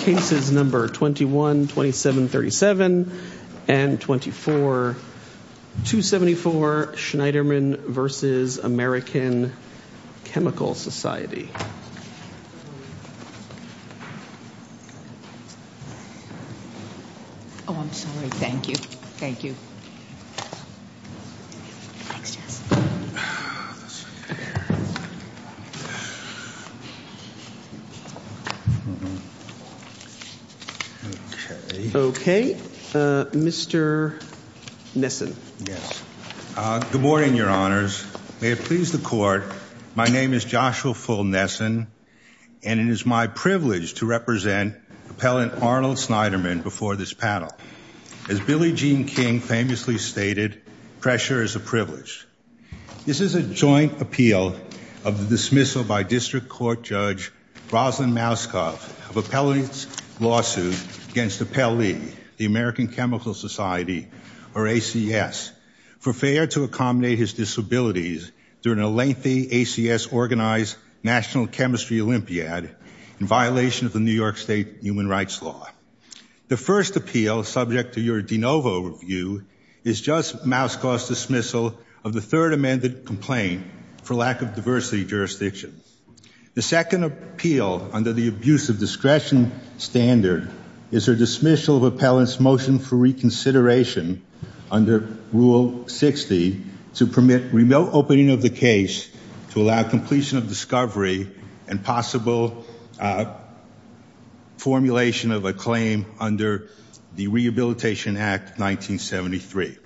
cases number 21 27 37 and 24 274 Schneiderman versus American Chemical Society oh I'm sorry thank you thank you okay okay mr. Nissen yes good morning your honors may it please the court my name is Joshua Full Nissen and it is my privilege to represent appellant Arnold Schneiderman before this panel as Billie Jean King famously stated pressure is a privilege this is a joint appeal of the dismissal by district court judge Roslyn Mouskov of appellate's lawsuit against the Pele the American Chemical Society or ACS for fair to accommodate his disabilities during a lengthy ACS organized National Chemistry Olympiad in violation of the New York State human rights law the first appeal subject to your de novo review is just Mouskov's dismissal of the third amended complaint for lack of diversity jurisdiction the second appeal under the abuse of discretion standard is her dismissal of appellants motion for reconsideration under rule 60 to permit remote opening of the case to allow completion of discovery and possible formulation of a claim under the Rehabilitation Act 1973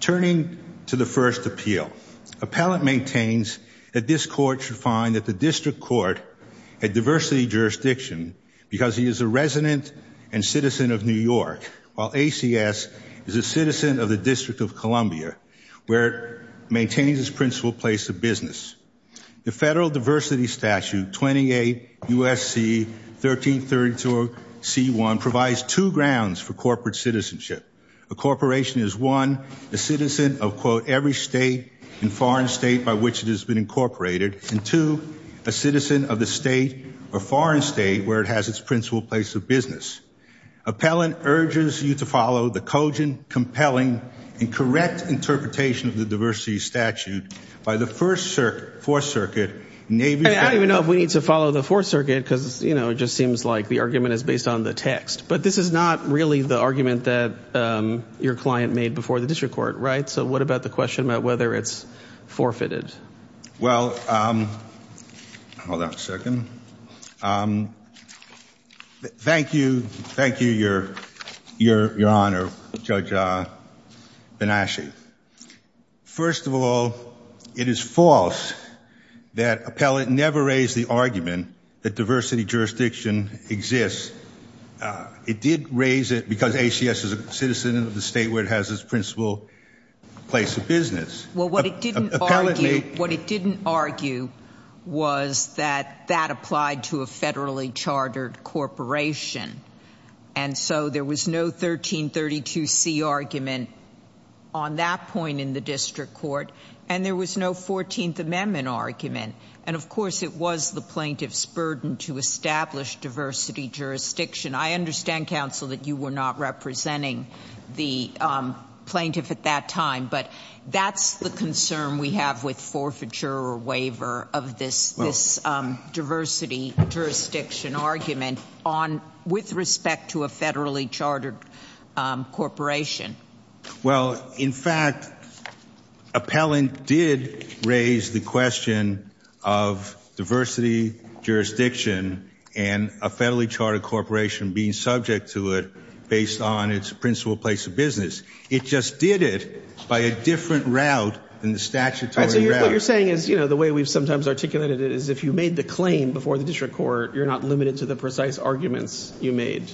turning to the first appeal appellant maintains that this court should find that the district court had diversity jurisdiction because he is a resident and citizen of New York while ACS is a citizen of the District of Columbia where it maintains its principal place of business the federal diversity statute 28 USC 1332 c1 provides two grounds for corporate citizenship a corporation is one the citizen of quote every state in foreign state by which it has been incorporated and to a citizen of the state or foreign state where it has its principal place of business appellant urges you to follow the cogent compelling and correct interpretation of the diversity statute by the first circuit for circuit maybe I don't even know if we need to follow the fourth circuit because you know it just seems like the argument is based on the text but this is not really the argument that your client made before the district court right so what about the question about whether it's forfeited well hold on a second thank you thank you your your your honor judge bin Ashi first of all it is false that appellant never raised the argument that diversity jurisdiction exists it did raise it because ACS is a citizen of the state where it has its principal place of business well what it didn't argue what it didn't argue was that that applied to a federally chartered corporation and so there was no 1332 C argument on that point in the district court and there was no 14th Amendment argument and of course it was the plaintiff's burden to establish diversity jurisdiction I understand counsel that you were not representing the plaintiff at that time but that's the concern we have with forfeiture waiver of this this diversity jurisdiction argument on with respect to a federally chartered corporation well in fact appellant did raise the question of diversity jurisdiction and a federally chartered corporation being subject to it based on its principal place of it just did it by a different route in the statutory you're saying is you know the way we've sometimes articulated it is if you made the claim before the district court you're not limited to the precise arguments you made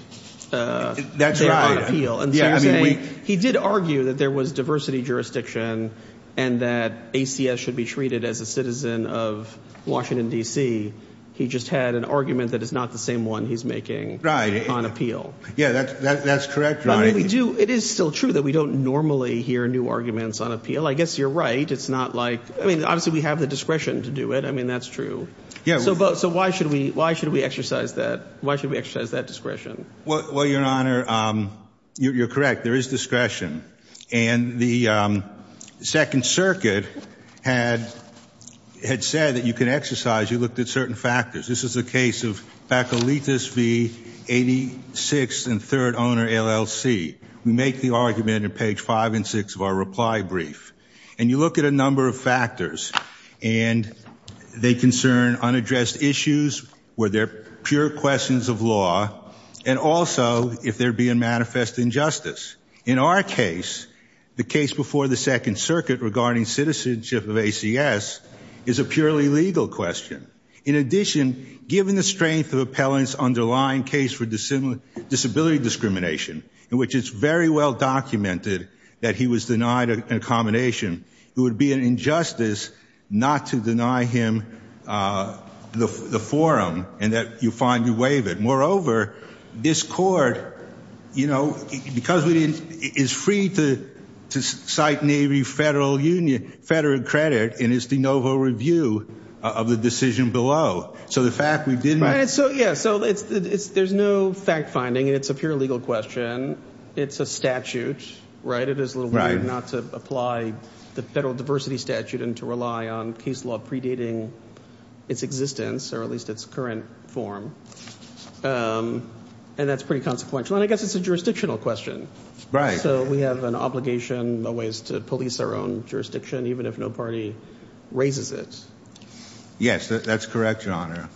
that's right appeal and yeah he did argue that there was diversity jurisdiction and that ACS should be treated as a citizen of Washington DC he just had an argument that is not the same one he's making right on appeal yeah that's correct I we do it is still true that we don't normally hear new arguments on appeal I guess you're right it's not like I mean obviously we have the discretion to do it I mean that's true yeah so but so why should we why should we exercise that why should we exercise that discretion well your honor you're correct there is discretion and the Second Circuit had had said that you can exercise you looked at certain factors this is the case of back elitist v86 and third owner LLC we make the argument in page five and six of our reply brief and you look at a number of factors and they concern unaddressed issues where they're pure questions of law and also if they're being manifest injustice in our case the case before the Second Circuit regarding citizenship of ACS is a purely legal question in addition given the strength of appellants underlying case for dissimilar disability discrimination in which it's very well documented that he was denied a combination it would be an injustice not to deny him the forum and that you find you waive it moreover this court you know because we didn't is free to cite Navy Federal Union federal credit in his de novo review of the decision below so the fact we did right so yeah so it's there's no fact-finding and it's a pure legal question it's a statute right it is a little right not to apply the federal diversity statute and to rely on case law predating its existence or at least its current form and that's pretty consequential and I question right so we have an obligation the ways to police our own jurisdiction even if no party raises it yes that's correct your honor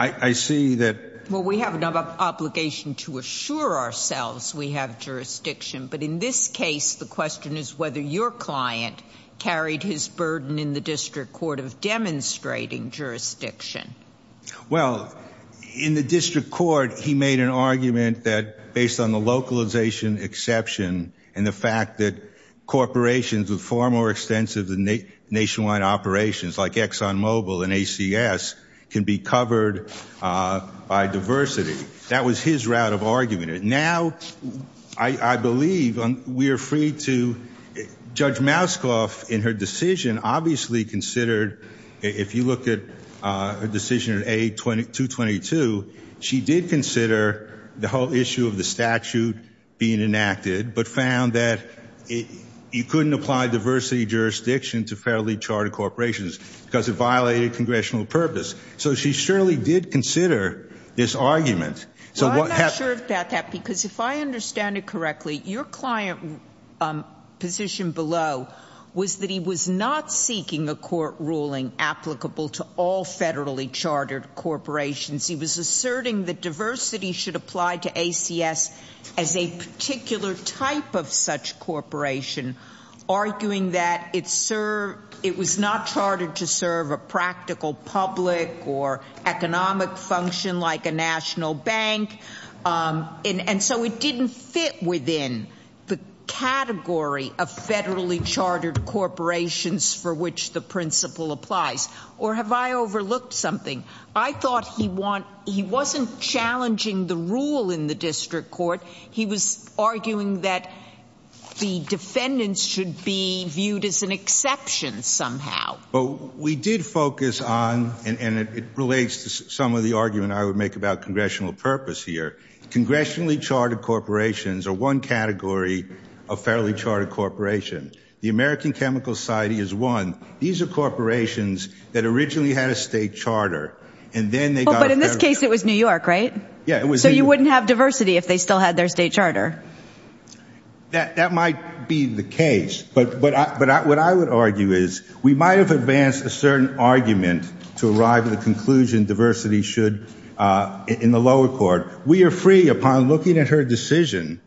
I see that well we have an obligation to assure ourselves we have jurisdiction but in this case the question is whether your client carried his burden in the district court of demonstrating jurisdiction well in the district court he made an argument that based on the localization exception and the fact that corporations with far more extensive than the nationwide operations like Exxon Mobil and ACS can be covered by diversity that was his route of argument now I believe on we are free to judge mask off in her decision obviously considered if you look at a 222 she did consider the whole issue of the statute being enacted but found that it you couldn't apply diversity jurisdiction to fairly charted corporations because it violated congressional purpose so she surely did consider this argument so what happened that that because if I understand it correctly your client position below was that he was not seeking a court ruling applicable to all federally chartered corporations he was asserting the diversity should apply to ACS as a particular type of such corporation arguing that it's sir it was not charted to serve a practical public or economic function like a national bank and so it didn't fit within the category of federally chartered corporations for which the principle applies or have I overlooked something I thought he want he wasn't challenging the rule in the district court he was arguing that the defendants should be viewed as an exception somehow but we did focus on and it relates to some of the argument I would make about congressional purpose here congressionally chartered corporations are one category of fairly charted corporation the American Chemical Society is one these are corporations that originally had a state charter and then they go but in this case it was New York right yeah it was so you wouldn't have diversity if they still had their state charter that that might be the case but but but what I would argue is we might have advanced a certain argument to arrive at the conclusion diversity should in the lower court we are free upon looking at her decision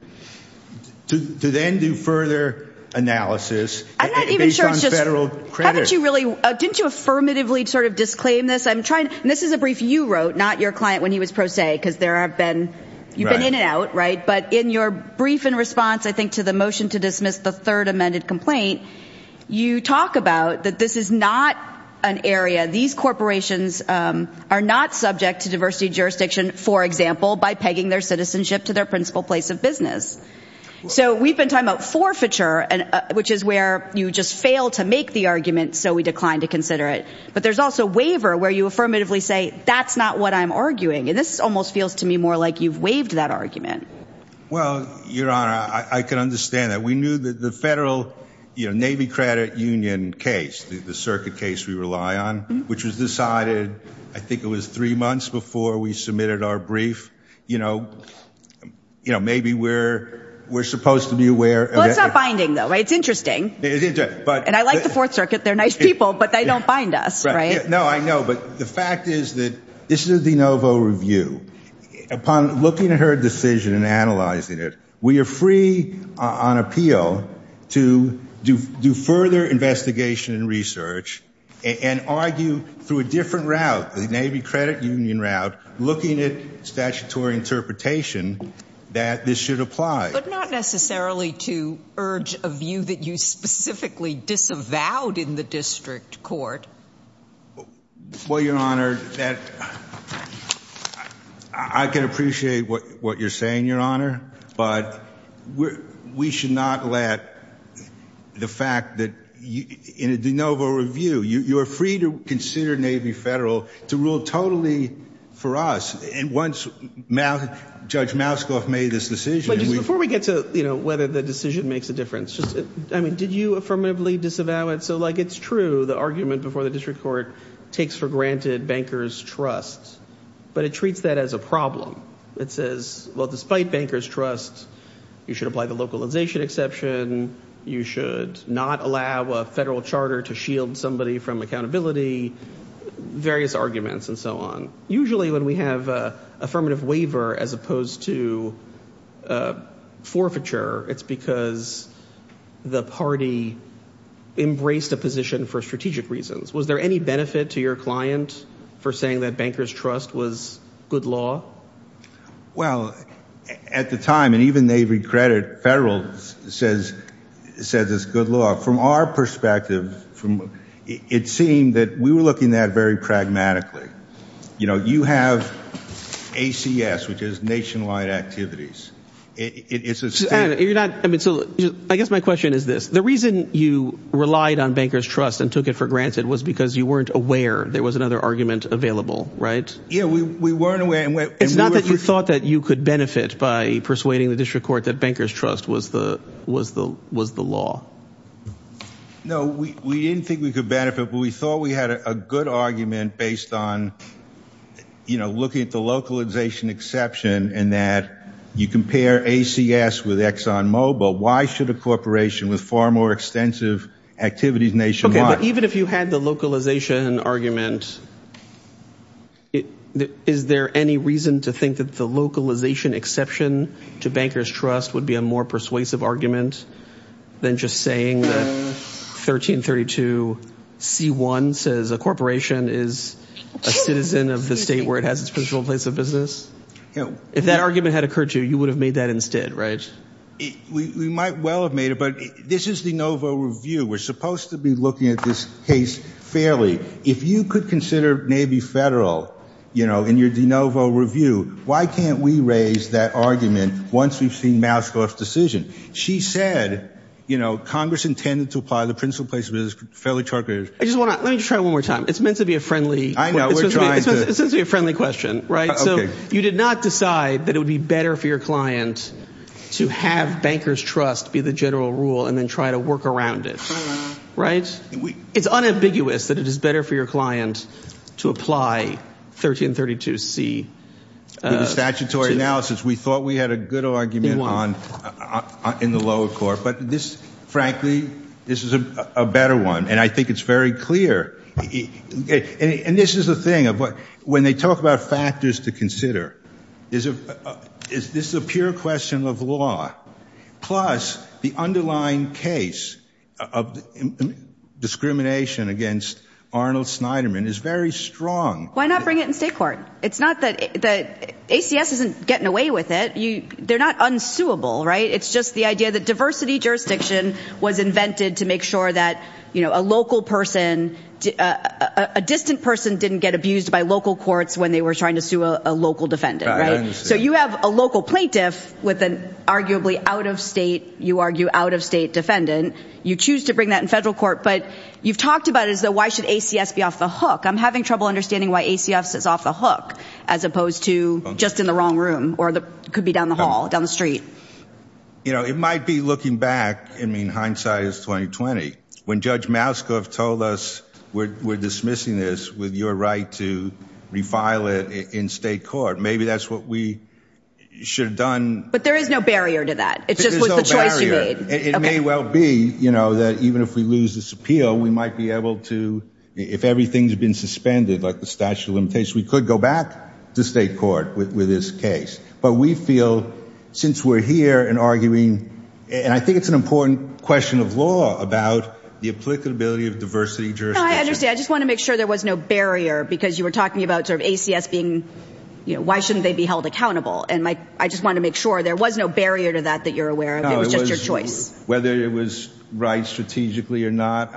to then do further analysis federal credit you really didn't you affirmatively sort of disclaim this I'm trying this is a brief you wrote not your client when he was pro se because there have been you've been in and out right but in your brief in response I think to the motion to dismiss the third amended complaint you talk about that this is not an area these corporations are not subject to diversity jurisdiction for example by pegging their citizenship to their principal place of business so we've been talking about forfeiture and which is where you just fail to make the argument so we declined to consider it but there's also waiver where you affirmatively say that's not what I'm arguing and this almost feels to me more like you've waived that argument well your honor I can understand that we knew that the federal you know Navy credit Union case the circuit case we rely on which was decided I think it was three months before we submitted our brief you know you know maybe we're we're supposed to be aware it's not binding though it's interesting but and I like the Fourth Circuit they're nice people but they don't bind us right no I know but the fact is that this is the Novo review upon looking at her decision and analyzing it we are free on appeal to do further investigation and research and argue through a different route the Navy credit Union route looking at statutory interpretation that this should apply but not necessarily to urge a view that you specifically disavowed in the district court well your honor that I can appreciate what what you're saying your honor but we're we should not let the fact that you in a de novo review you you're free to consider Navy federal to rule totally for us and once mouth judge mask off made this decision before we get to you know whether the decision makes a difference just I mean did you affirmatively disavow it so like it's true the argument before the district court takes for granted bankers trust but it treats that as a problem it is well despite bankers trust you should apply the localization exception you should not allow a federal charter to shield somebody from accountability various arguments and so on usually when we have affirmative waiver as opposed to forfeiture it's because the party embraced a position for strategic reasons was there any benefit to your client for saying that bankers trust was good law well at the time and even they regret it federal says says it's good law from our perspective from it seemed that we were looking at very pragmatically you know you have ACS which is nationwide activities it's a you're not I mean so I guess my question is this the reason you relied on bankers trust and took it for granted was because you weren't aware there was another argument available right yeah we weren't aware it's not that you thought that you could benefit by persuading the district court that bankers trust was the was the was the law no we didn't think we could benefit but we thought we had a good argument based on you know looking at the localization exception and that you compare ACS with Exxon Mobil why should a corporation with far more extensive activities nationwide even if you had the localization argument it is there any reason to think that the localization exception to bankers trust would be a more persuasive argument than just saying that 1332 c1 says a corporation is a citizen of the state where it has its personal place of business you know if that argument had occurred to you would have made that instead right we might well have made it this is the Novo review we're supposed to be looking at this case fairly if you could consider maybe federal you know in your DeNovo review why can't we raise that argument once we've seen Mascot's decision she said you know Congress intended to apply the principal place was fairly charters I just want to let you try one more time it's meant to be a friendly I know we're trying to be a friendly question right so you did not decide that it would be better for your client to have bankers trust be the general rule and then try to work around it right it's unambiguous that it is better for your client to apply 1332 C statutory analysis we thought we had a good argument on in the lower court but this frankly this is a better one and I think it's very clear okay and this is a thing of what when they talk about factors to consider is a is this a pure question of law plus the underlying case of discrimination against Arnold Snyderman is very strong why not bring it in state court it's not that the ACS isn't getting away with it you they're not unsuitable right it's just the idea that diversity jurisdiction was invented to make sure that you know a local person a distant person didn't get abused by local courts when they were trying to sue a local defendant right so you have a local plaintiff with an arguably out-of-state you argue out-of-state defendant you choose to bring that in federal court but you've talked about as though why should ACS be off the hook I'm having trouble understanding why ACS is off the hook as opposed to just in the wrong room or that could be down the hall down the street you know it might be looking back I mean hindsight is 2020 when judge Mouskov told us we're dismissing this with your right to refile it in state court maybe that's what we should have done but there is no barrier to that it just was the choice you made it may well be you know that even if we lose this appeal we might be able to if everything's been suspended like the statute of limitations we could go back to state court with this case but we feel since we're here and arguing and I think it's an important question of law about the applicability of diversity I understand I just want to make sure there was no barrier because you were talking about sort of ACS being you know why shouldn't they be held accountable and my I just want to make sure there was no barrier to that that you're aware of it was just your choice whether it was right strategically or not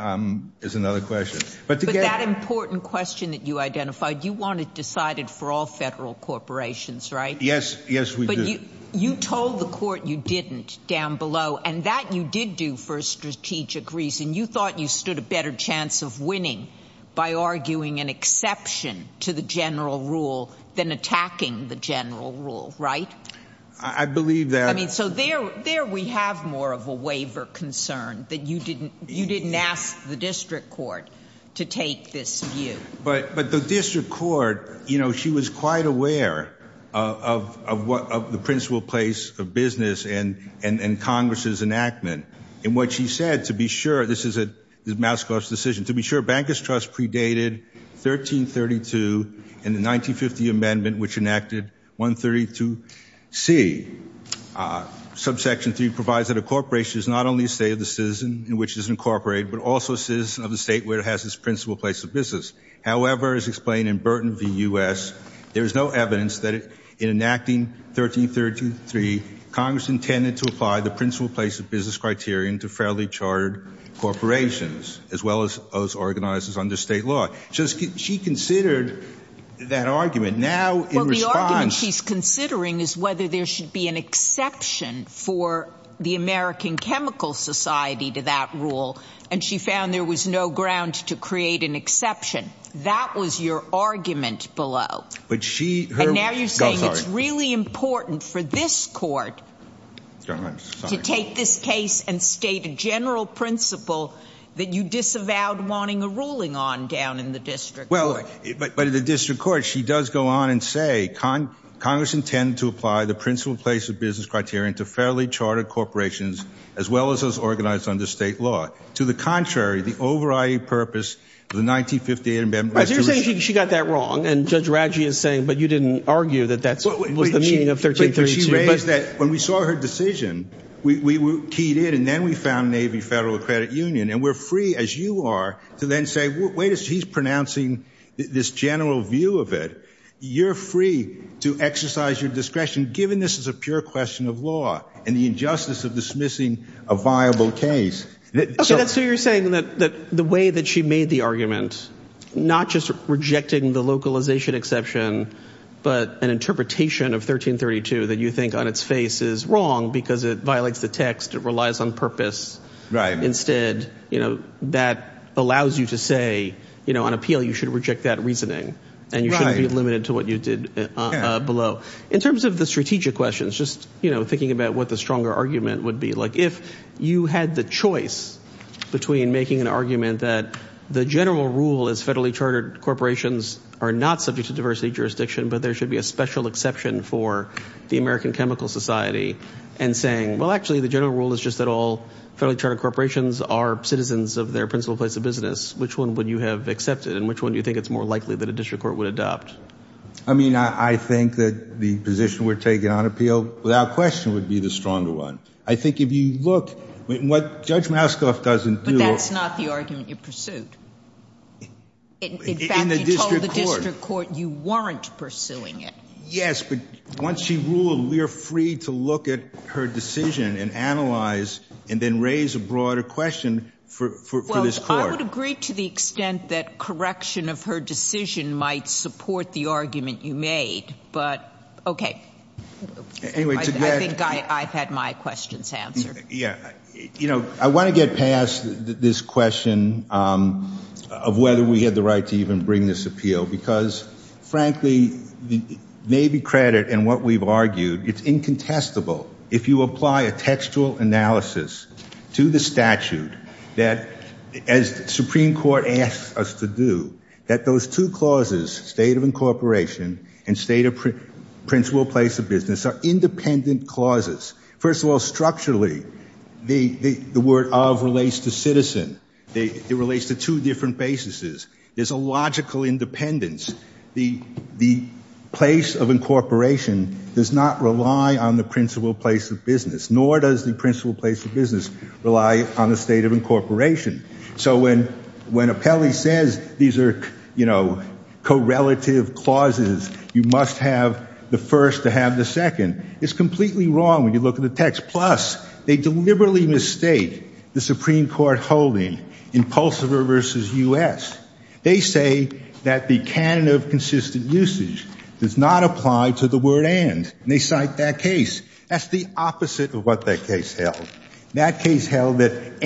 is another question but that important question that you identified you want it decided for all federal corporations right yes yes we do you told the court you didn't down below and that you did do for a strategic reason you thought you stood a better chance of winning by arguing an exception to the general rule than attacking the general rule right I believe that I mean so there there we have more of a waiver concern that you didn't you didn't ask the district court to take this view but but the district court you know she was quite aware of what the principal place of business and Congress's enactment and what she said to be sure this is a mask off decision to be sure bankers trust predated 1332 in the 1950 amendment which enacted 132 see subsection 3 provides that a corporation is not only a state of the citizen in which is incorporated but also says of the state where it has its principal place of business however is explained in Burton V US there is no evidence that it in enacting 1333 Congress intended to apply the principal place of business criterion to fairly chartered corporations as well as those organizers under state law just get she considered that argument now in response he's considering is whether there should be an exception for the American Chemical Society to that rule and she found there was no ground to create an exception that was your argument below but she really important for this court to take this case and state a general principle that you disavowed wanting a ruling on down in the district well but the district court she does go on and say con Congress intend to apply the principal place of business criterion to fairly chartered corporations as well as those organized under state law to the contrary the over IE purpose the 1958 amendment she got that wrong and judge Radji is saying but you didn't argue that that's what was the meaning of 1333 that when we saw her decision we were keyed in and then we found Navy Federal Credit Union and we're free as you are to then say wait as he's pronouncing this general view of it you're free to exercise your discretion given this is a pure question of law and the injustice of dismissing a you're saying that the way that she made the argument not just rejecting the localization exception but an interpretation of 1332 that you think on its face is wrong because it violates the text it relies on purpose right instead you know that allows you to say you know on appeal you should reject that reasoning and you should be limited to what you did below in terms of the strategic questions just you know thinking about what the stronger argument would be like if you had the choice between making an argument that the general rule is federally chartered corporations are not subject to diversity jurisdiction but there should be a special exception for the American Chemical Society and saying well actually the general rule is just that all federally chartered corporations are citizens of their principal place of business which one would you have accepted and which one do you think it's more likely that a district court would adopt I mean I think that the position we're taking on appeal without question would be the stronger one I think if you look what judge Mascoff doesn't do that's not the argument you pursued the district court you weren't pursuing it yes but once she ruled we are free to look at her decision and analyze and then raise a broader question for this court I would agree to the extent that correction of her decision might support the argument you made but okay I've had my questions answered yeah you know I want to get past this question of whether we had the right to even bring this appeal because frankly the Navy credit and what we've argued it's incontestable if you apply a textual analysis to the statute that as the corporation and state of principal place of business are independent clauses first of all structurally the the word of relates to citizen they it relates to two different basis is there's a logical independence the the place of incorporation does not rely on the principal place of business nor does the principal place of business rely on the state of incorporation so when when a Kelly says these are you know co-relative clauses you must have the first to have the second it's completely wrong when you look at the text plus they deliberately mistake the Supreme Court holding impulsive reverses us they say that the canon of consistent usage does not apply to the word and they cite that case that's the opposite of what that case held that case held that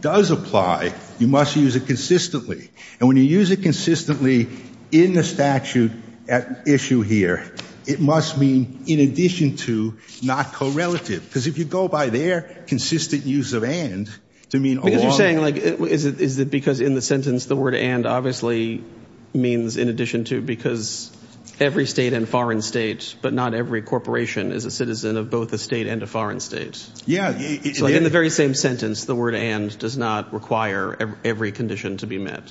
does apply you must use it consistently and when you use it consistently in the statute at issue here it must mean in addition to not co-relative because if you go by their consistent use of and to mean you're saying like is it is it because in the sentence the word and obviously means in addition to because every state and foreign states but not every corporation is a citizen of both the state and a foreign states yeah it's like in the very same sentence the word and does not require every condition to be met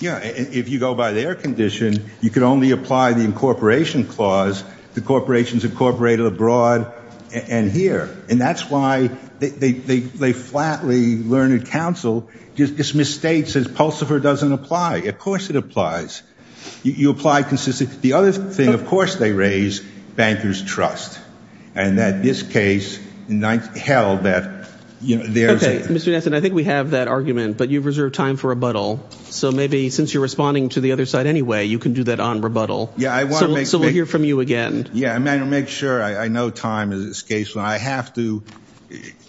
yeah if you go by their condition you can only apply the incorporation clause the corporations incorporated abroad and here and that's why they they flatly learned counsel dismiss state says Pulsifer doesn't apply of course it applies you apply consistent the other thing of course they raise bankers trust and that this case in 19 held that you know there's a mr. Ness and I think we have that argument but you've reserved time for rebuttal so maybe since you're responding to the other side anyway you can do that on rebuttal yeah I want to make sure we hear from you again yeah I'm gonna make sure I know time is this case when I have to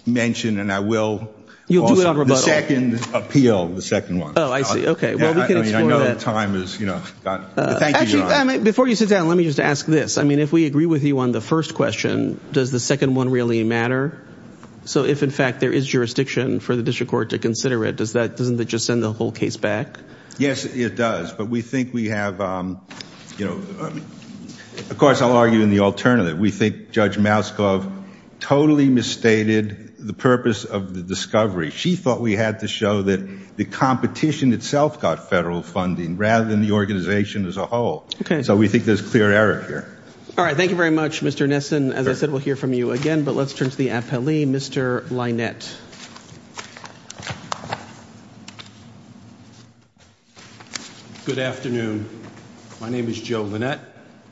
mention and I will you'll do it on the second appeal the before you sit down let me just ask this I mean if we agree with you on the first question does the second one really matter so if in fact there is jurisdiction for the district court to consider it does that doesn't that just send the whole case back yes it does but we think we have you know of course I'll argue in the alternative we think judge mouse glove totally misstated the purpose of the discovery she thought we had to show that the competition itself got federal funding rather than the organization as a whole okay so we think there's clear error here all right thank you very much mr. Nesson as I said we'll hear from you again but let's turn to the appellee mr. Lynette good afternoon my name is Joe Lynette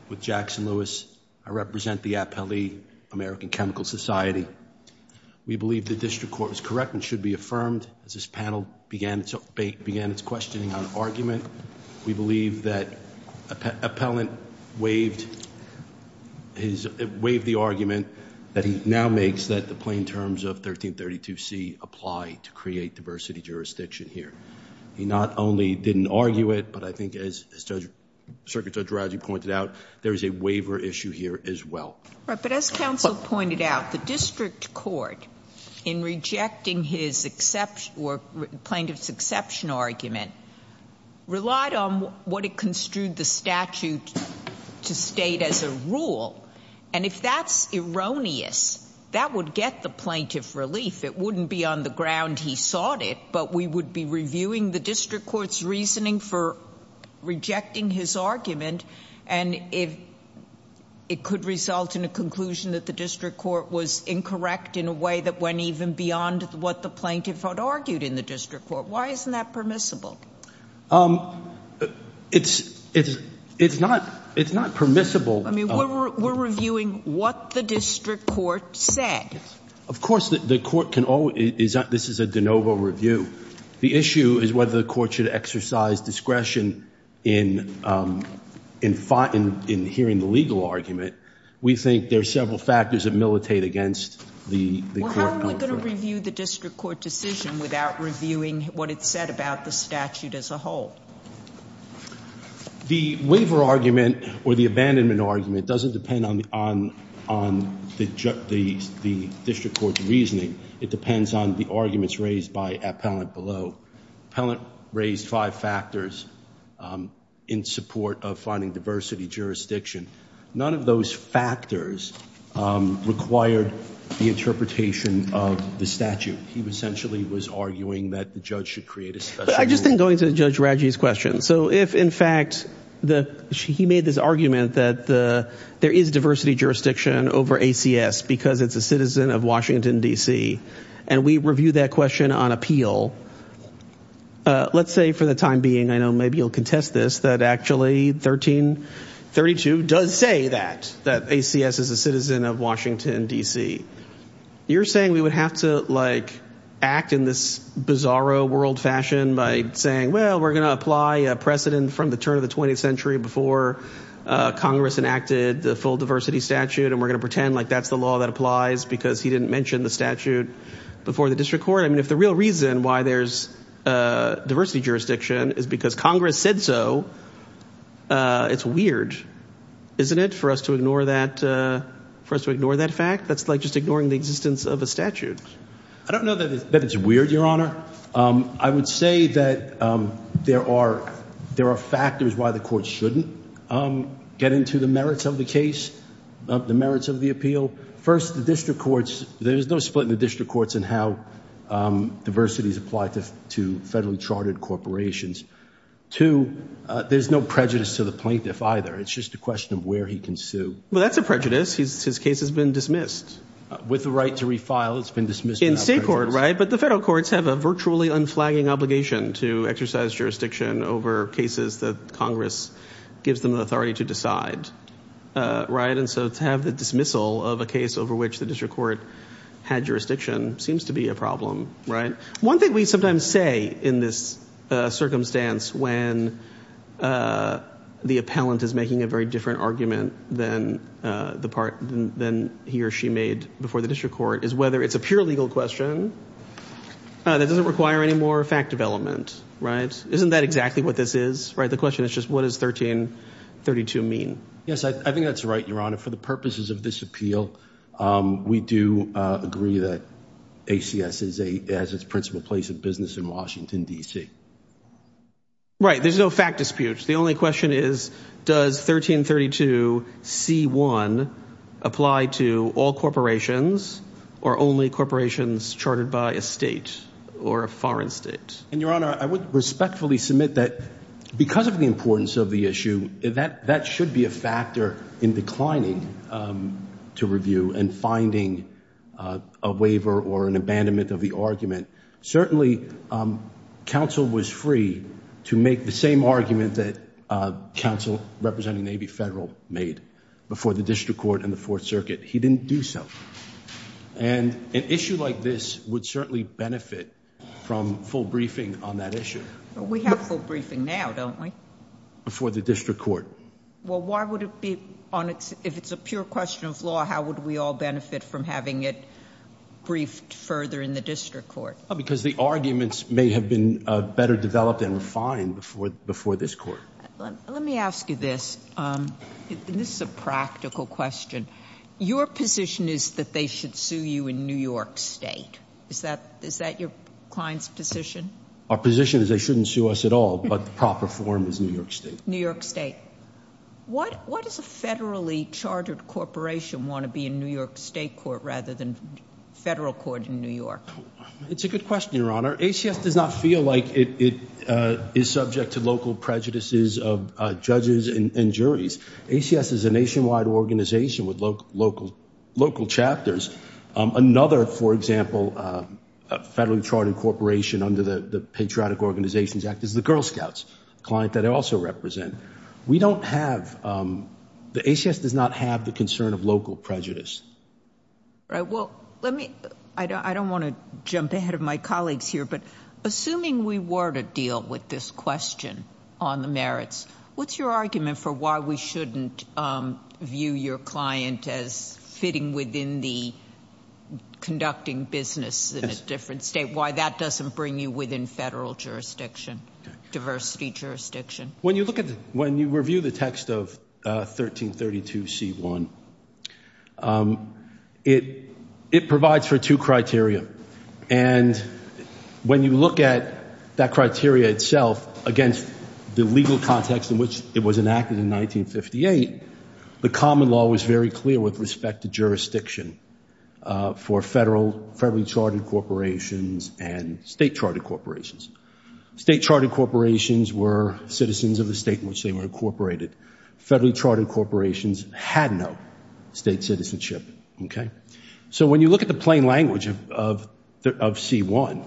with Jackson Lewis I represent the appellee American Chemical Society we believe the district court was correct and should be affirmed as this panel began to bake began its questioning on argument we believe that appellant waved his wave the argument that he now makes that the plain terms of 1332 C apply to create diversity jurisdiction here he not only didn't argue it but I think as circuit judge Roger pointed out there is a issue here as well right but as counsel pointed out the district court in rejecting his exception or plaintiff's exception argument relied on what it construed the statute to state as a rule and if that's erroneous that would get the plaintiff relief it wouldn't be on the ground he sought it but we would be the district court's reasoning for rejecting his argument and if it could result in a conclusion that the district court was incorrect in a way that went even beyond what the plaintiff had argued in the district court why isn't that permissible it's it's it's not it's not permissible I mean we're reviewing what the district court said of course that the court can always that this is a review the issue is whether the court should exercise discretion in in fighting in hearing the legal argument we think there are several factors that militate against the review the district court decision without reviewing what it said about the statute as a whole the waiver argument or the abandonment argument doesn't depend on the on on the judge the the district court's reasoning it depends on the arguments raised by appellant below pellet raised five factors in support of finding diversity jurisdiction none of those factors required the interpretation of the statute he was essentially was arguing that the judge should create a special I just think going to judge Raji's question so if in fact the she he made this argument that the there is diversity jurisdiction over ACS because it's a citizen of Washington DC and we review that question on appeal let's say for the time being I know maybe you'll contest this that actually 1332 does say that that ACS is a citizen of Washington DC you're saying we would have to like act in this bizarro world fashion by saying well we're gonna apply a precedent from the turn of the 20th before Congress enacted the full diversity statute and we're gonna pretend like that's the law that applies because he didn't mention the statute before the district court I mean if the real reason why there's diversity jurisdiction is because Congress said so it's weird isn't it for us to ignore that for us to ignore that fact that's like just ignoring the existence of a statute I don't know that it's weird your honor I would say that there are there are factors why the court shouldn't get into the merits of the case the merits of the appeal first the district courts there's no split in the district courts and how diversity is applied to to federally chartered corporations to there's no prejudice to the plaintiff either it's just a question of where he can sue well that's a prejudice he's his case has been dismissed with the right to refile it's been dismissed in state court right but the federal courts have a virtually unflagging obligation to exercise jurisdiction over cases that Congress gives them the authority to decide right and so to have the dismissal of a case over which the district court had jurisdiction seems to be a problem right one thing we sometimes say in this circumstance when the appellant is making a very different argument than the part then he or she made before the district court is whether it's a pure legal question that doesn't require any more fact development right isn't that exactly what this is right the question is just what is 1332 mean yes I think that's right your honor for the purposes of this appeal we do agree that ACS is a as its principal place of business in Washington DC right there's no fact disputes the only question is does 1332 c1 apply to all corporations or only corporations charted by a state or a foreign state and your honor I would respectfully submit that because of the importance of the issue that that should be a factor in declining to review and finding a waiver or an abandonment of the argument certainly counsel was free to make the same argument that counsel representing Navy Federal made before the district court in the Fourth Circuit he didn't do so and an issue like this would certainly benefit from full briefing on that issue we have full briefing now don't we before the district court well why would it be on its if it's a pure question of law how would we all benefit from having it briefed further in the district court because the arguments may have been better developed and refined before before this court let me ask you this this is a practical question your position is that they should sue you in New York State is that is that your clients position our position is they shouldn't sue us at all but the proper form is New York State New York State what what is a federally chartered corporation want to be in New York State court rather than federal court in New York it's a good question your honor ACS does not feel like it is subject to local prejudices of judges and juries ACS is a nationwide organization with local chapters another for example a federally charted corporation under the Patriotic Organizations Act is the Girl Scouts client that I also represent we don't have the ACS does not have the concern of local prejudice right well let me I don't want to jump ahead of my colleagues here but assuming we were to deal with this question on the merits what's your argument for why we shouldn't view your client as fitting within the conducting business in a different state why that doesn't bring you within federal jurisdiction diversity jurisdiction when you look at when you review the text of 1332 c1 it it provides for two criteria and when you look at that criteria itself against the legal context in which it was enacted in 1958 the common law was very clear with respect to jurisdiction for federal federally chartered corporations and state chartered corporations state chartered corporations were citizens of the state in which they were incorporated federally chartered corporations had no state citizenship okay so when you look at the plain language of c1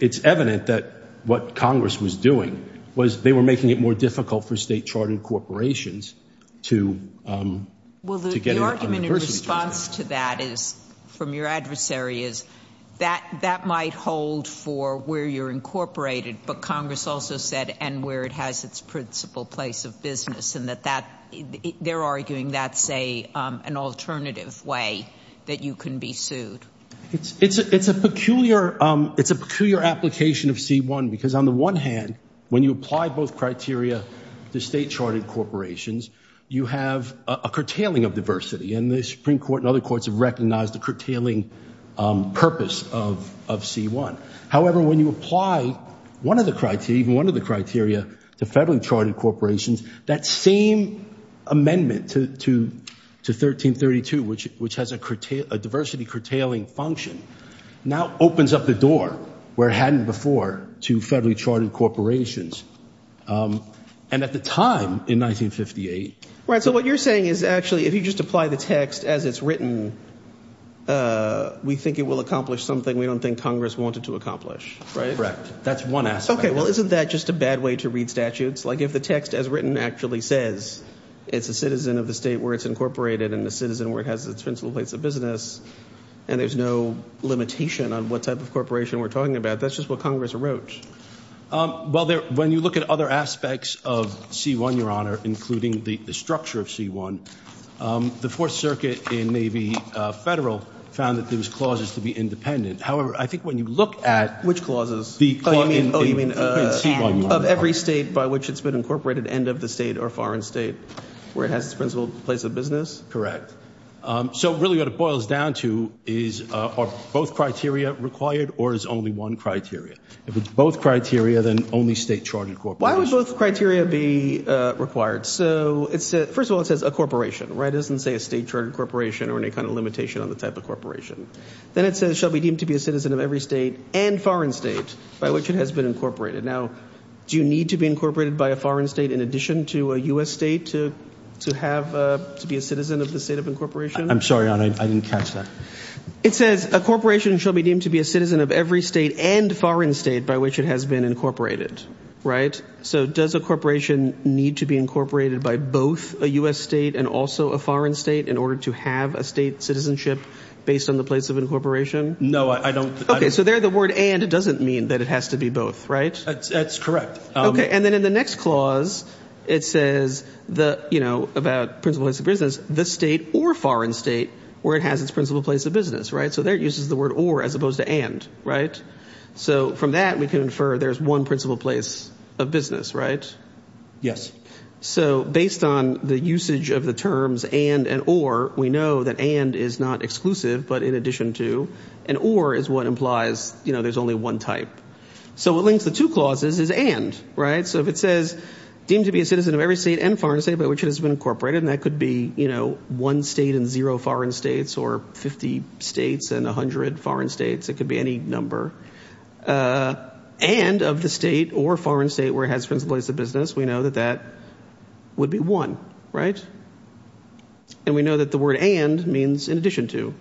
it's evident that what Congress was doing was they were making it more difficult for state chartered corporations to well the argument in response to that is from your adversary is that that might hold for where you're incorporated but Congress also said and where it has its principal place of business and that that they're arguing that's a an alternative way that you can be sued it's it's it's a peculiar it's a peculiar application of c1 because on the one hand when you apply both criteria to state chartered corporations you have a curtailing of diversity and the Supreme Court and other courts have recognized the curtailing purpose of of c1 however when you apply one of the criteria even one of the criteria to federally chartered corporations that same amendment to 1332 which which has a diversity curtailing function now opens up the door where hadn't before to federally chartered corporations and at the time in 1958 right so what you're saying is actually if you just apply the text as it's written we think it will accomplish something we don't think Congress wanted to accomplish right correct that's one aspect okay well isn't that just a bad way to read statutes like if the text as written actually says it's a citizen of the state where it's incorporated and the citizen where it has its principal place of business and there's no limitation on what type of corporation we're talking about that's just what Congress wrote well there when you look at other aspects of c1 your honor including the structure of c1 the Fourth Circuit in Navy Federal found that there was clauses to be independent however I think when you look at which clauses the of every state by which it's been incorporated end of the state or foreign state where it has its principal place of business correct so really what it boils down to is are both criteria required or is only one criteria if it's both criteria then only state-chartered corporation criteria be required so it's first of all it says a corporation right doesn't say a state-chartered corporation or any kind of limitation on the type of corporation then it says every state and foreign state by which it has been incorporated now do you need to be incorporated by a foreign state in addition to a US state to to have to be a citizen of the state of incorporation I'm sorry I didn't catch that it says a corporation shall be deemed to be a citizen of every state and foreign state by which it has been incorporated right so does a corporation need to be incorporated by both a US state and also a foreign state in order to have a state based on the place of incorporation no I don't okay so there the word and it doesn't mean that it has to be both right that's correct okay and then in the next clause it says the you know about principles of business the state or foreign state where it has its principal place of business right so there it uses the word or as opposed to and right so from that we can infer there's one principal place of business right yes so based on the usage of the terms and and or we know that and is not exclusive but in addition to and or is what implies you know there's only one type so it links the two clauses is and right so if it says deemed to be a citizen of every state and foreign state by which it has been incorporated and that could be you know one state and zero foreign states or 50 states and a hundred foreign states it could be any number and of the state or foreign state where it has principles of business we know that that would be one right and we know that the word and means in addition to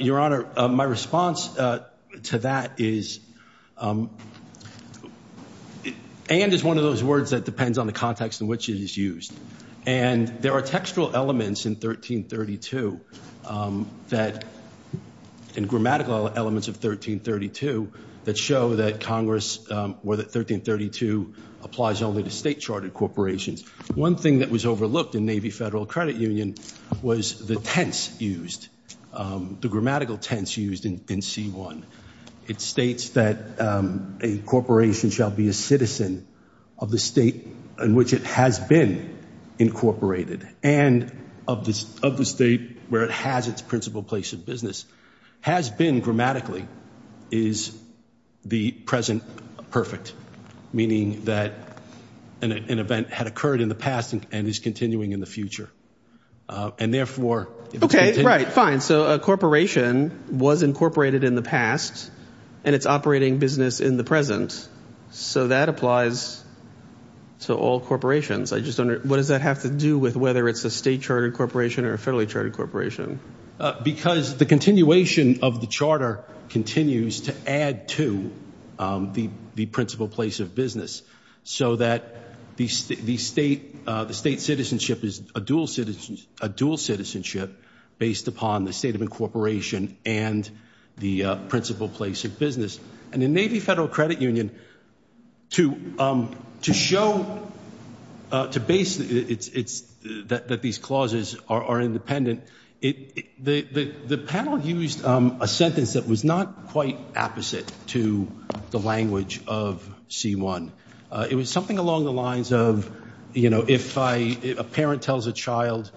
your honor my response to that is and is one of those words that depends on the context in which it is used and there are textual elements in that in grammatical elements of 1332 that show that Congress were that 1332 applies only to state charted corporations one thing that was overlooked in Navy Federal Credit Union was the tense used the grammatical tense used in c1 it states that a corporation shall be a citizen of the state in which it has been incorporated and of this of the state where it has its principal place of business has been grammatically is the present perfect meaning that an event had occurred in the past and is continuing in the future and therefore okay right fine so a corporation was incorporated in the past and it's I just don't know what does that have to do with whether it's a state chartered corporation or a federally chartered corporation because the continuation of the charter continues to add to the the principal place of business so that the state the state the state citizenship is a dual citizens a dual citizenship based upon the state of incorporation and the principal place of business and the Navy Federal Credit Union to to show to base it's that these clauses are independent it the the panel used a sentence that was not quite opposite to the language of c1 it was something along the lines of you know if I a parent tells a child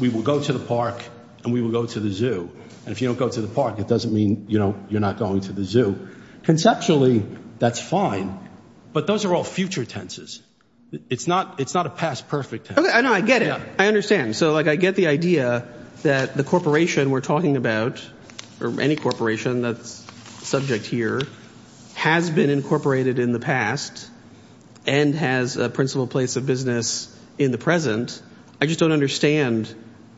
we will go to the park and we will go to the zoo and if you don't go to the park it doesn't mean you know you're not going to the zoo conceptually that's fine but those are all future tenses it's not it's not a past perfect and I get it I understand so like I get the idea that the corporation we're talking about or any corporation that's subject here has been incorporated in the past and has a principal place of business in the present I just don't understand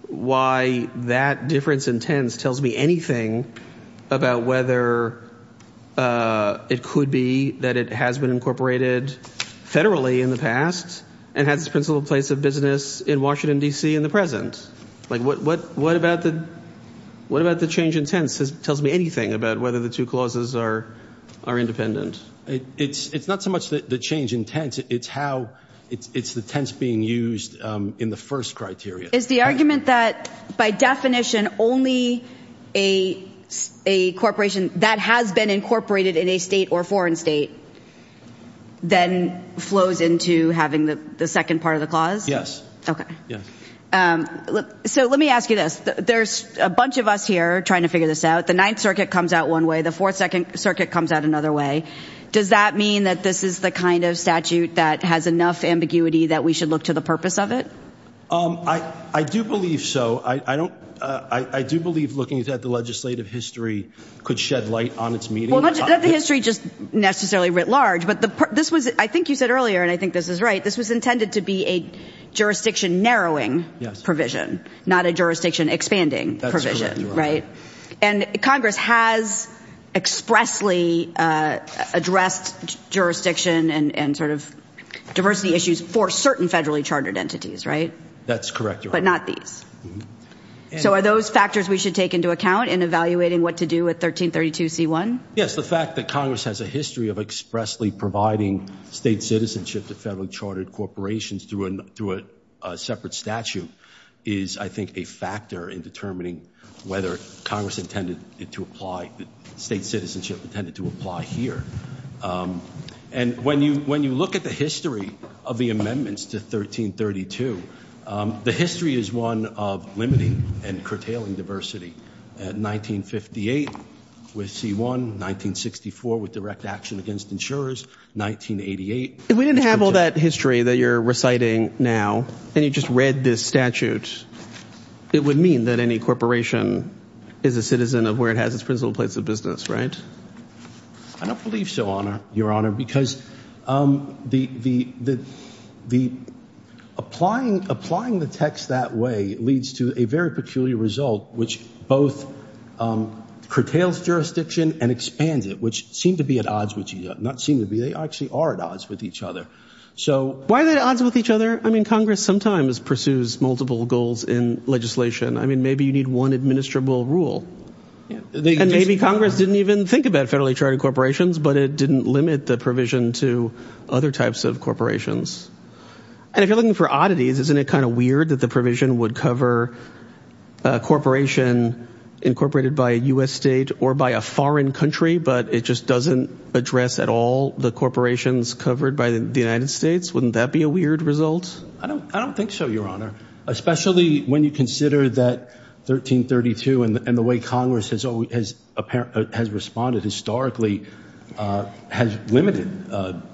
why that difference in tense tells me anything about whether it could be that it has been incorporated federally in the past and has a principal place of business in Washington DC in the present like what what what about the what about the change in tense tells me anything about whether the two clauses are are independent it's it's not so much that the change in tense it's how it's it's a tense being used in the first criteria is the argument that by definition only a a corporation that has been incorporated in a state or foreign state then flows into having the second part of the clause yes okay yeah look so let me ask you this there's a bunch of us here trying to figure this out the Ninth Circuit comes out one way the fourth second circuit comes out another way does that mean that this is the kind of statute that has enough ambiguity that we should look to the purpose of it um I I do believe so I I don't I I do believe looking at the legislative history could shed light on its meeting history just necessarily writ large but the this was I think you said earlier and I think this is right this was intended to be a jurisdiction narrowing provision not a jurisdiction expanding provision right and Congress has expressly addressed jurisdiction and and sort of diversity issues for certain federally chartered entities right that's correct but not these so are those factors we should take into account in evaluating what to do with 1332 c1 yes the fact that Congress has a history of expressly providing state citizenship to federally chartered corporations through a separate statute is I think a whether Congress intended it to apply the state citizenship intended to apply here and when you when you look at the history of the amendments to 1332 the history is one of limiting and curtailing diversity at 1958 with c1 1964 with direct action against insurers 1988 we didn't have all that history that you're reciting now and you just read this statute it would mean that any corporation is a citizen of where it has its principal place of business right I don't believe so honor your honor because the the the the applying applying the text that way leads to a very peculiar result which both curtails jurisdiction and expands it which seemed to be at odds with you not seem to be they actually are at odds with each other so why are they odds with each other I mean Congress sometimes pursues multiple goals in legislation I mean maybe you need one administrable rule and maybe Congress didn't even think about federally chartered corporations but it didn't limit the provision to other types of corporations and if you're looking for oddities isn't it kind of weird that the provision would cover a corporation incorporated by a corporations covered by the United States wouldn't that be a weird result I don't I don't think so your honor especially when you consider that 1332 and the way Congress has always has a parent has responded historically has limited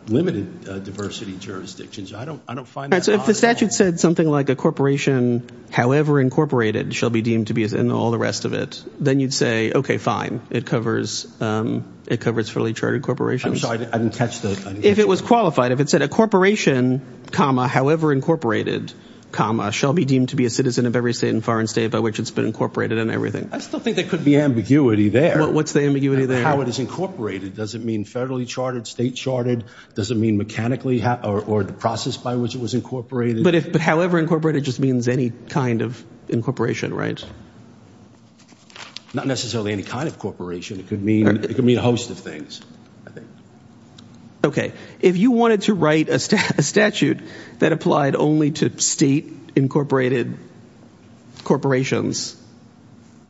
limited diversity jurisdictions I don't I don't find the statute said something like a corporation however incorporated shall be deemed to be as in all the rest of it then you'd say okay fine it covers it covers fairly chartered I'm sorry I didn't catch that if it was qualified if it said a corporation comma however incorporated comma shall be deemed to be a citizen of every state and foreign state by which it's been incorporated and everything I still think that could be ambiguity there what's the ambiguity there how it is incorporated does it mean federally charted state charted does it mean mechanically how or the process by which it was incorporated but if but however incorporated just means any kind of incorporation right not necessarily any kind of corporation it could mean it could mean a host of things okay if you wanted to write a statute that applied only to state incorporated corporations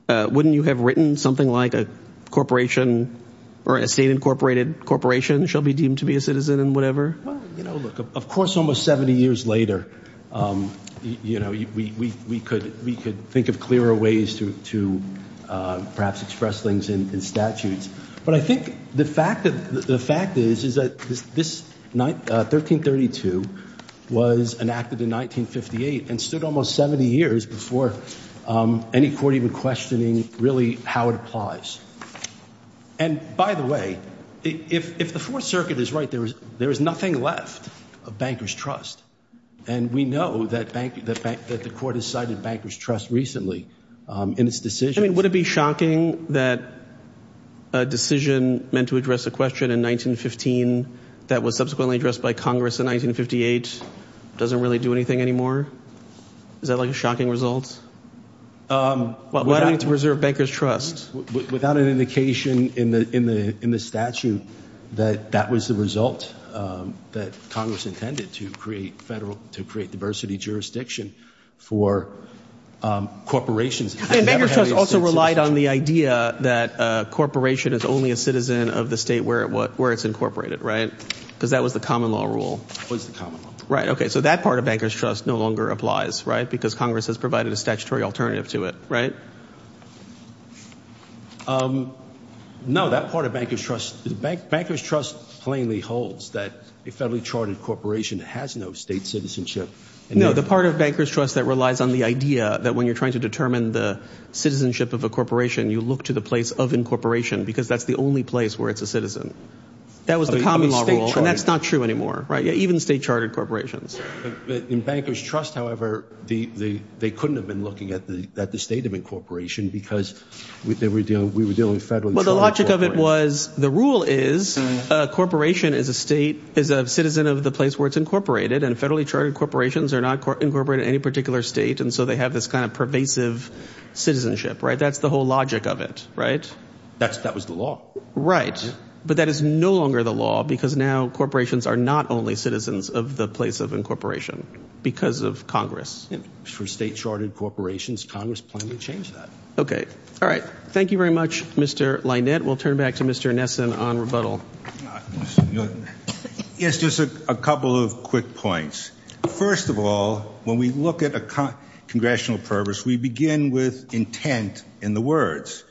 wouldn't you have written something like a corporation or a state incorporated corporation shall be deemed to be a citizen and whatever of course almost 70 years later you know we could we could think of clearer ways to to perhaps express things in statutes but I think the fact that the fact is is that this night 1332 was enacted in 1958 and stood almost 70 years before any court even questioning really how it applies and by the way if the Fourth Circuit is right there was there is nothing left of bankers trust and we know that bank that bank that the court has cited bankers trust recently in its decision would it be shocking that a decision meant to address a question in 1915 that was subsequently addressed by Congress in 1958 doesn't really do anything anymore is that like a shocking results well I need to reserve bankers trust without an indication in the in the in the statute that that was the result that Congress intended to create federal to create diversity jurisdiction for corporations also relied on the idea that corporation is only a citizen of the state where it what where it's incorporated right because that was the common law rule was the common right okay so that part of bankers trust no longer applies right because Congress has provided a statutory alternative to it right no that part of bankers trust bank bankers trust plainly holds that a federally charted corporation has no state citizenship and no the part of bankers trust that relies on the idea that when you're trying to determine the citizenship of a corporation you look to the place of incorporation because that's the only place where it's a citizen that was the common law rule and that's not true anymore right yeah even state chartered corporations in bankers trust however the they couldn't have been looking at the that the state of incorporation because we were doing we were doing federally but the logic of it was the rule is a corporation is a state is a citizen of the place where it's incorporated and federally chartered corporations are not incorporated any particular state and so they have this kind of pervasive citizenship right that's the whole logic of it right that's that was the law right but that is no longer the law because now corporations are not only citizens of the place of incorporation because of Congress for state chartered corporations Congress plan to change that okay all right thank you very much mr. Lynette we'll turn back to mr. Nesson on rebuttal yes just a couple of quick points first of all when we look at a congressional purpose we begin with intent in the words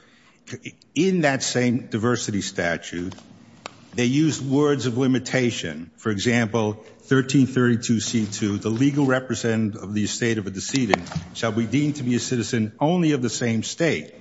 in that same diversity statute they use words of limitation for example 1332 c2 the legal represent of the estate of a decedent shall be deemed to be a citizen only of the same state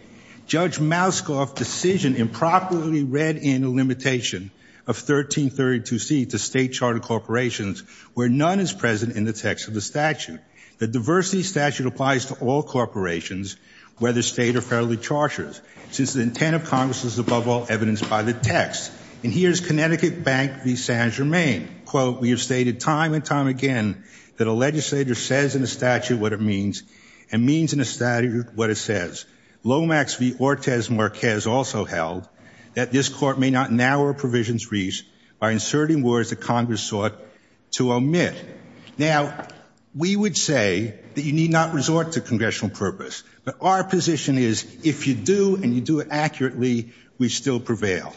judge Mouskov decision improperly read in a limitation of 1332 C to state chartered corporations where none is present in the text of the statute the diversity statute applies to all corporations whether state or federally charters since the intent of Congress is above all evidence by the text and here's Connecticut Bank v San Jermaine quote we have stated time and time again that a legislator says in a statute what it means and means in a statute what it says Lomax v Ortiz Marquez also held that this court may not narrow provisions reached by inserting words that Congress sought to omit now we would say that you need not resort to congressional purpose but our position is if you do and you do it accurately we still prevail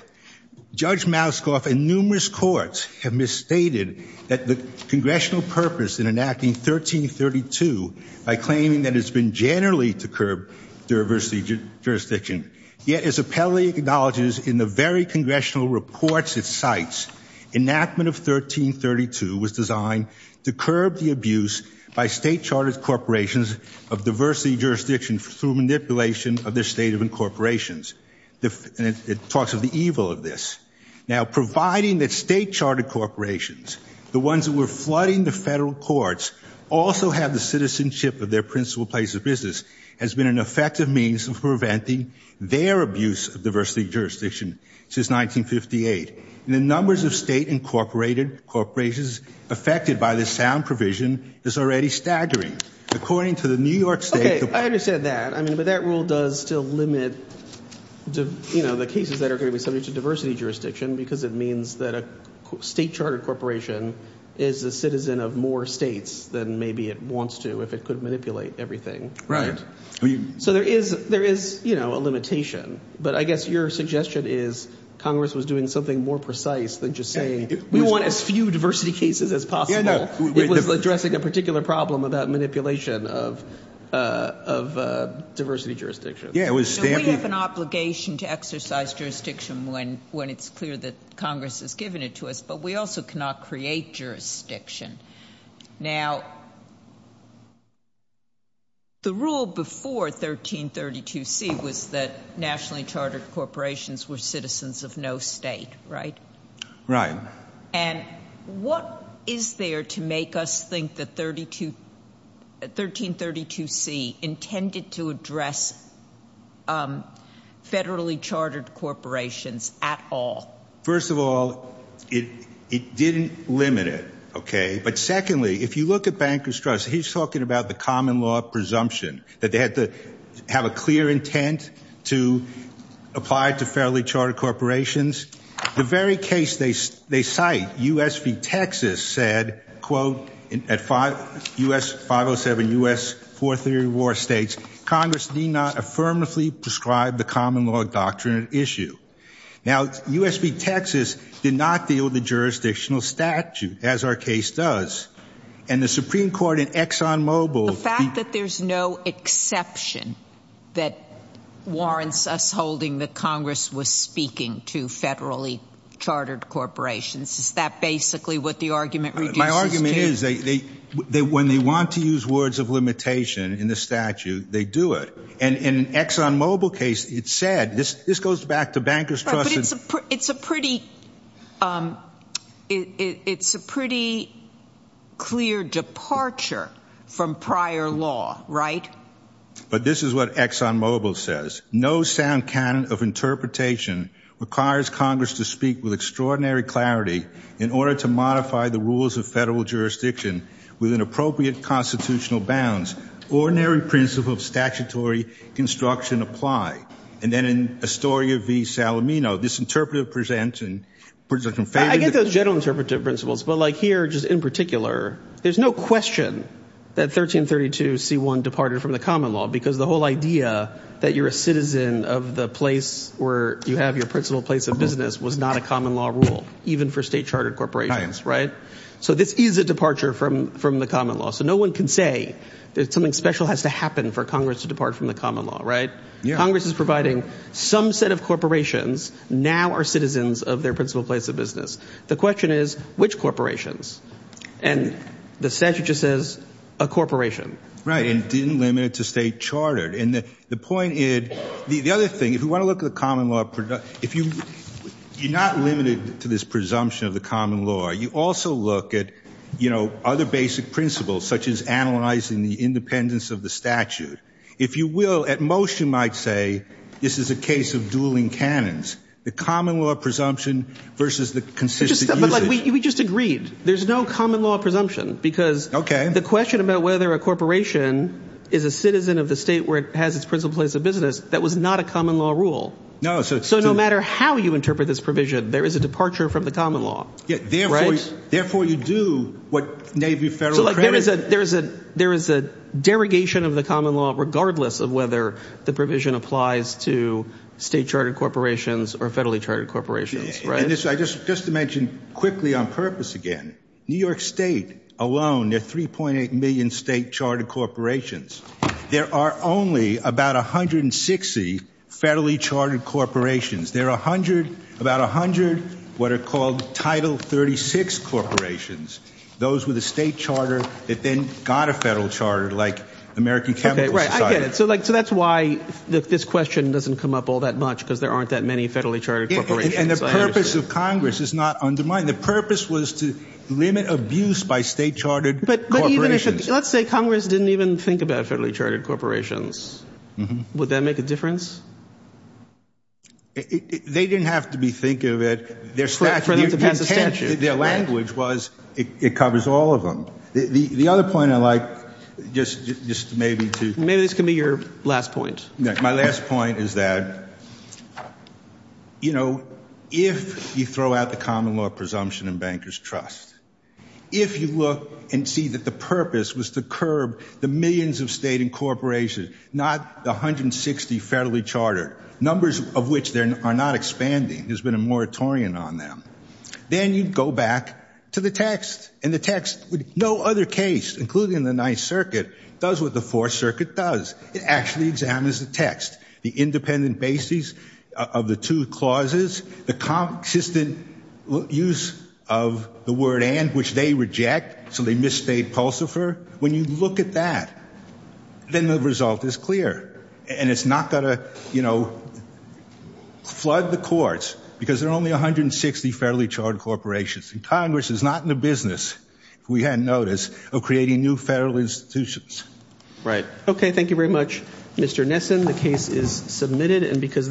judge Mouskov and numerous courts have misstated that the congressional purpose in enacting 1332 by claiming that it's been generally to curb diversity jurisdiction yet as a acknowledges in the very congressional reports it cites enactment of 1332 was designed to curb the abuse by state chartered corporations of diversity jurisdiction through manipulation of their state of incorporations the talks of the evil of this now providing that state chartered corporations the ones that were flooding the federal courts also have the citizenship of their principal place of business has been an effective means of preventing their abuse of diversity jurisdiction since 1958 and the numbers of state incorporated corporations affected by this sound provision is already staggering according to the New York State I understand that I mean but that rule does still limit you know the cases that are going to be subject to diversity jurisdiction because it means that a state chartered corporation is a citizen of more states than maybe it wants to if it could manipulate everything right so there is there is you know a limitation but I guess your suggestion is Congress was doing something more precise than just saying we want as few diversity cases as possible addressing a particular problem about manipulation of diversity jurisdiction yeah it was an obligation to exercise jurisdiction when when it's clear that Congress has given it to us but we also cannot create jurisdiction now the rule before 1332 C was that nationally chartered corporations were citizens of no state right right and what is there to make us think that 32 1332 C intended to address federally chartered corporations at all first of all it it didn't limit it okay but secondly if you look at Bankers Trust he's talking about the common law presumption that they had to have a clear intent to apply to federally chartered corporations the very case they they cite US v Texas said quote in at five US 507 US 430 war states Congress need not affirmatively prescribe the common law doctrine issue now US v Texas did not deal with the jurisdictional statute as our case does and the Supreme Court in Exxon Mobil the fact that there's no exception that warrants us holding the Congress was speaking to federally chartered corporations is that basically what the argument my argument is they they when they want to use words of limitation in the statute they do it and in Exxon Mobil case it said this this goes back to Bankers Trust it's a pretty it's a pretty clear departure from prior law right but this is what Exxon Mobil says no sound can of interpretation requires Congress to speak with extraordinary clarity in order to modify the rules of federal jurisdiction with an appropriate constitutional bounds ordinary principle of statutory construction apply and then in Astoria v Salomino this interpretive presents and I get those general interpretive principles but like here just in particular there's no question that 1332 c1 departed from the common law because the whole idea that you're a citizen of the place where you have your principal place of business was not a common law rule even for state chartered corporations right so this is a can say that something special has to happen for Congress to depart from the common law right yeah Congress is providing some set of corporations now are citizens of their principal place of business the question is which corporations and the statute just says a corporation right and didn't limit it to state chartered and the point is the other thing if you want to look at the common law product if you you're not limited to this presumption of the analyzing the independence of the statute if you will at most you might say this is a case of dueling cannons the common law presumption versus the consistent we just agreed there's no common law presumption because okay the question about whether a corporation is a citizen of the state where it has its principal place of business that was not a common law rule no so no matter how you interpret this provision there is a departure from the common law yes therefore you do what Navy federal credit there is a there is a there is a derogation of the common law regardless of whether the provision applies to state chartered corporations or federally chartered corporations right this I just just to mention quickly on purpose again New York State alone at 3.8 million state chartered corporations there are only about a hundred and sixty federally chartered corporations there are a hundred about a hundred what are called title 36 corporations those with a state charter that then got a federal charter like American chemical so like so that's why this question doesn't come up all that much because there aren't that many federally chartered and the purpose of Congress is not undermined the purpose was to limit abuse by state chartered but let's say Congress didn't even think about federally chartered corporations would that make a difference they didn't have to be think their language was it covers all of them the other point I like just just maybe maybe this can be your last point my last point is that you know if you throw out the common law presumption and bankers trust if you look and see that the purpose was to curb the millions of state incorporation not the hundred and sixty federally chartered numbers of which there are not expanding there's been a moratorium on them then you'd go back to the text and the text with no other case including the Ninth Circuit does what the Fourth Circuit does it actually examines the text the independent basis of the two clauses the consistent use of the word and which they reject so they misstate pulsifer when you look at that then the result is clear and it's not gonna you know flood the courts because there are only a hundred and sixty fairly charred corporations and Congress is not in the business we had notice of creating new federal institutions right okay thank you very much mr. Nesson the case is submitted and because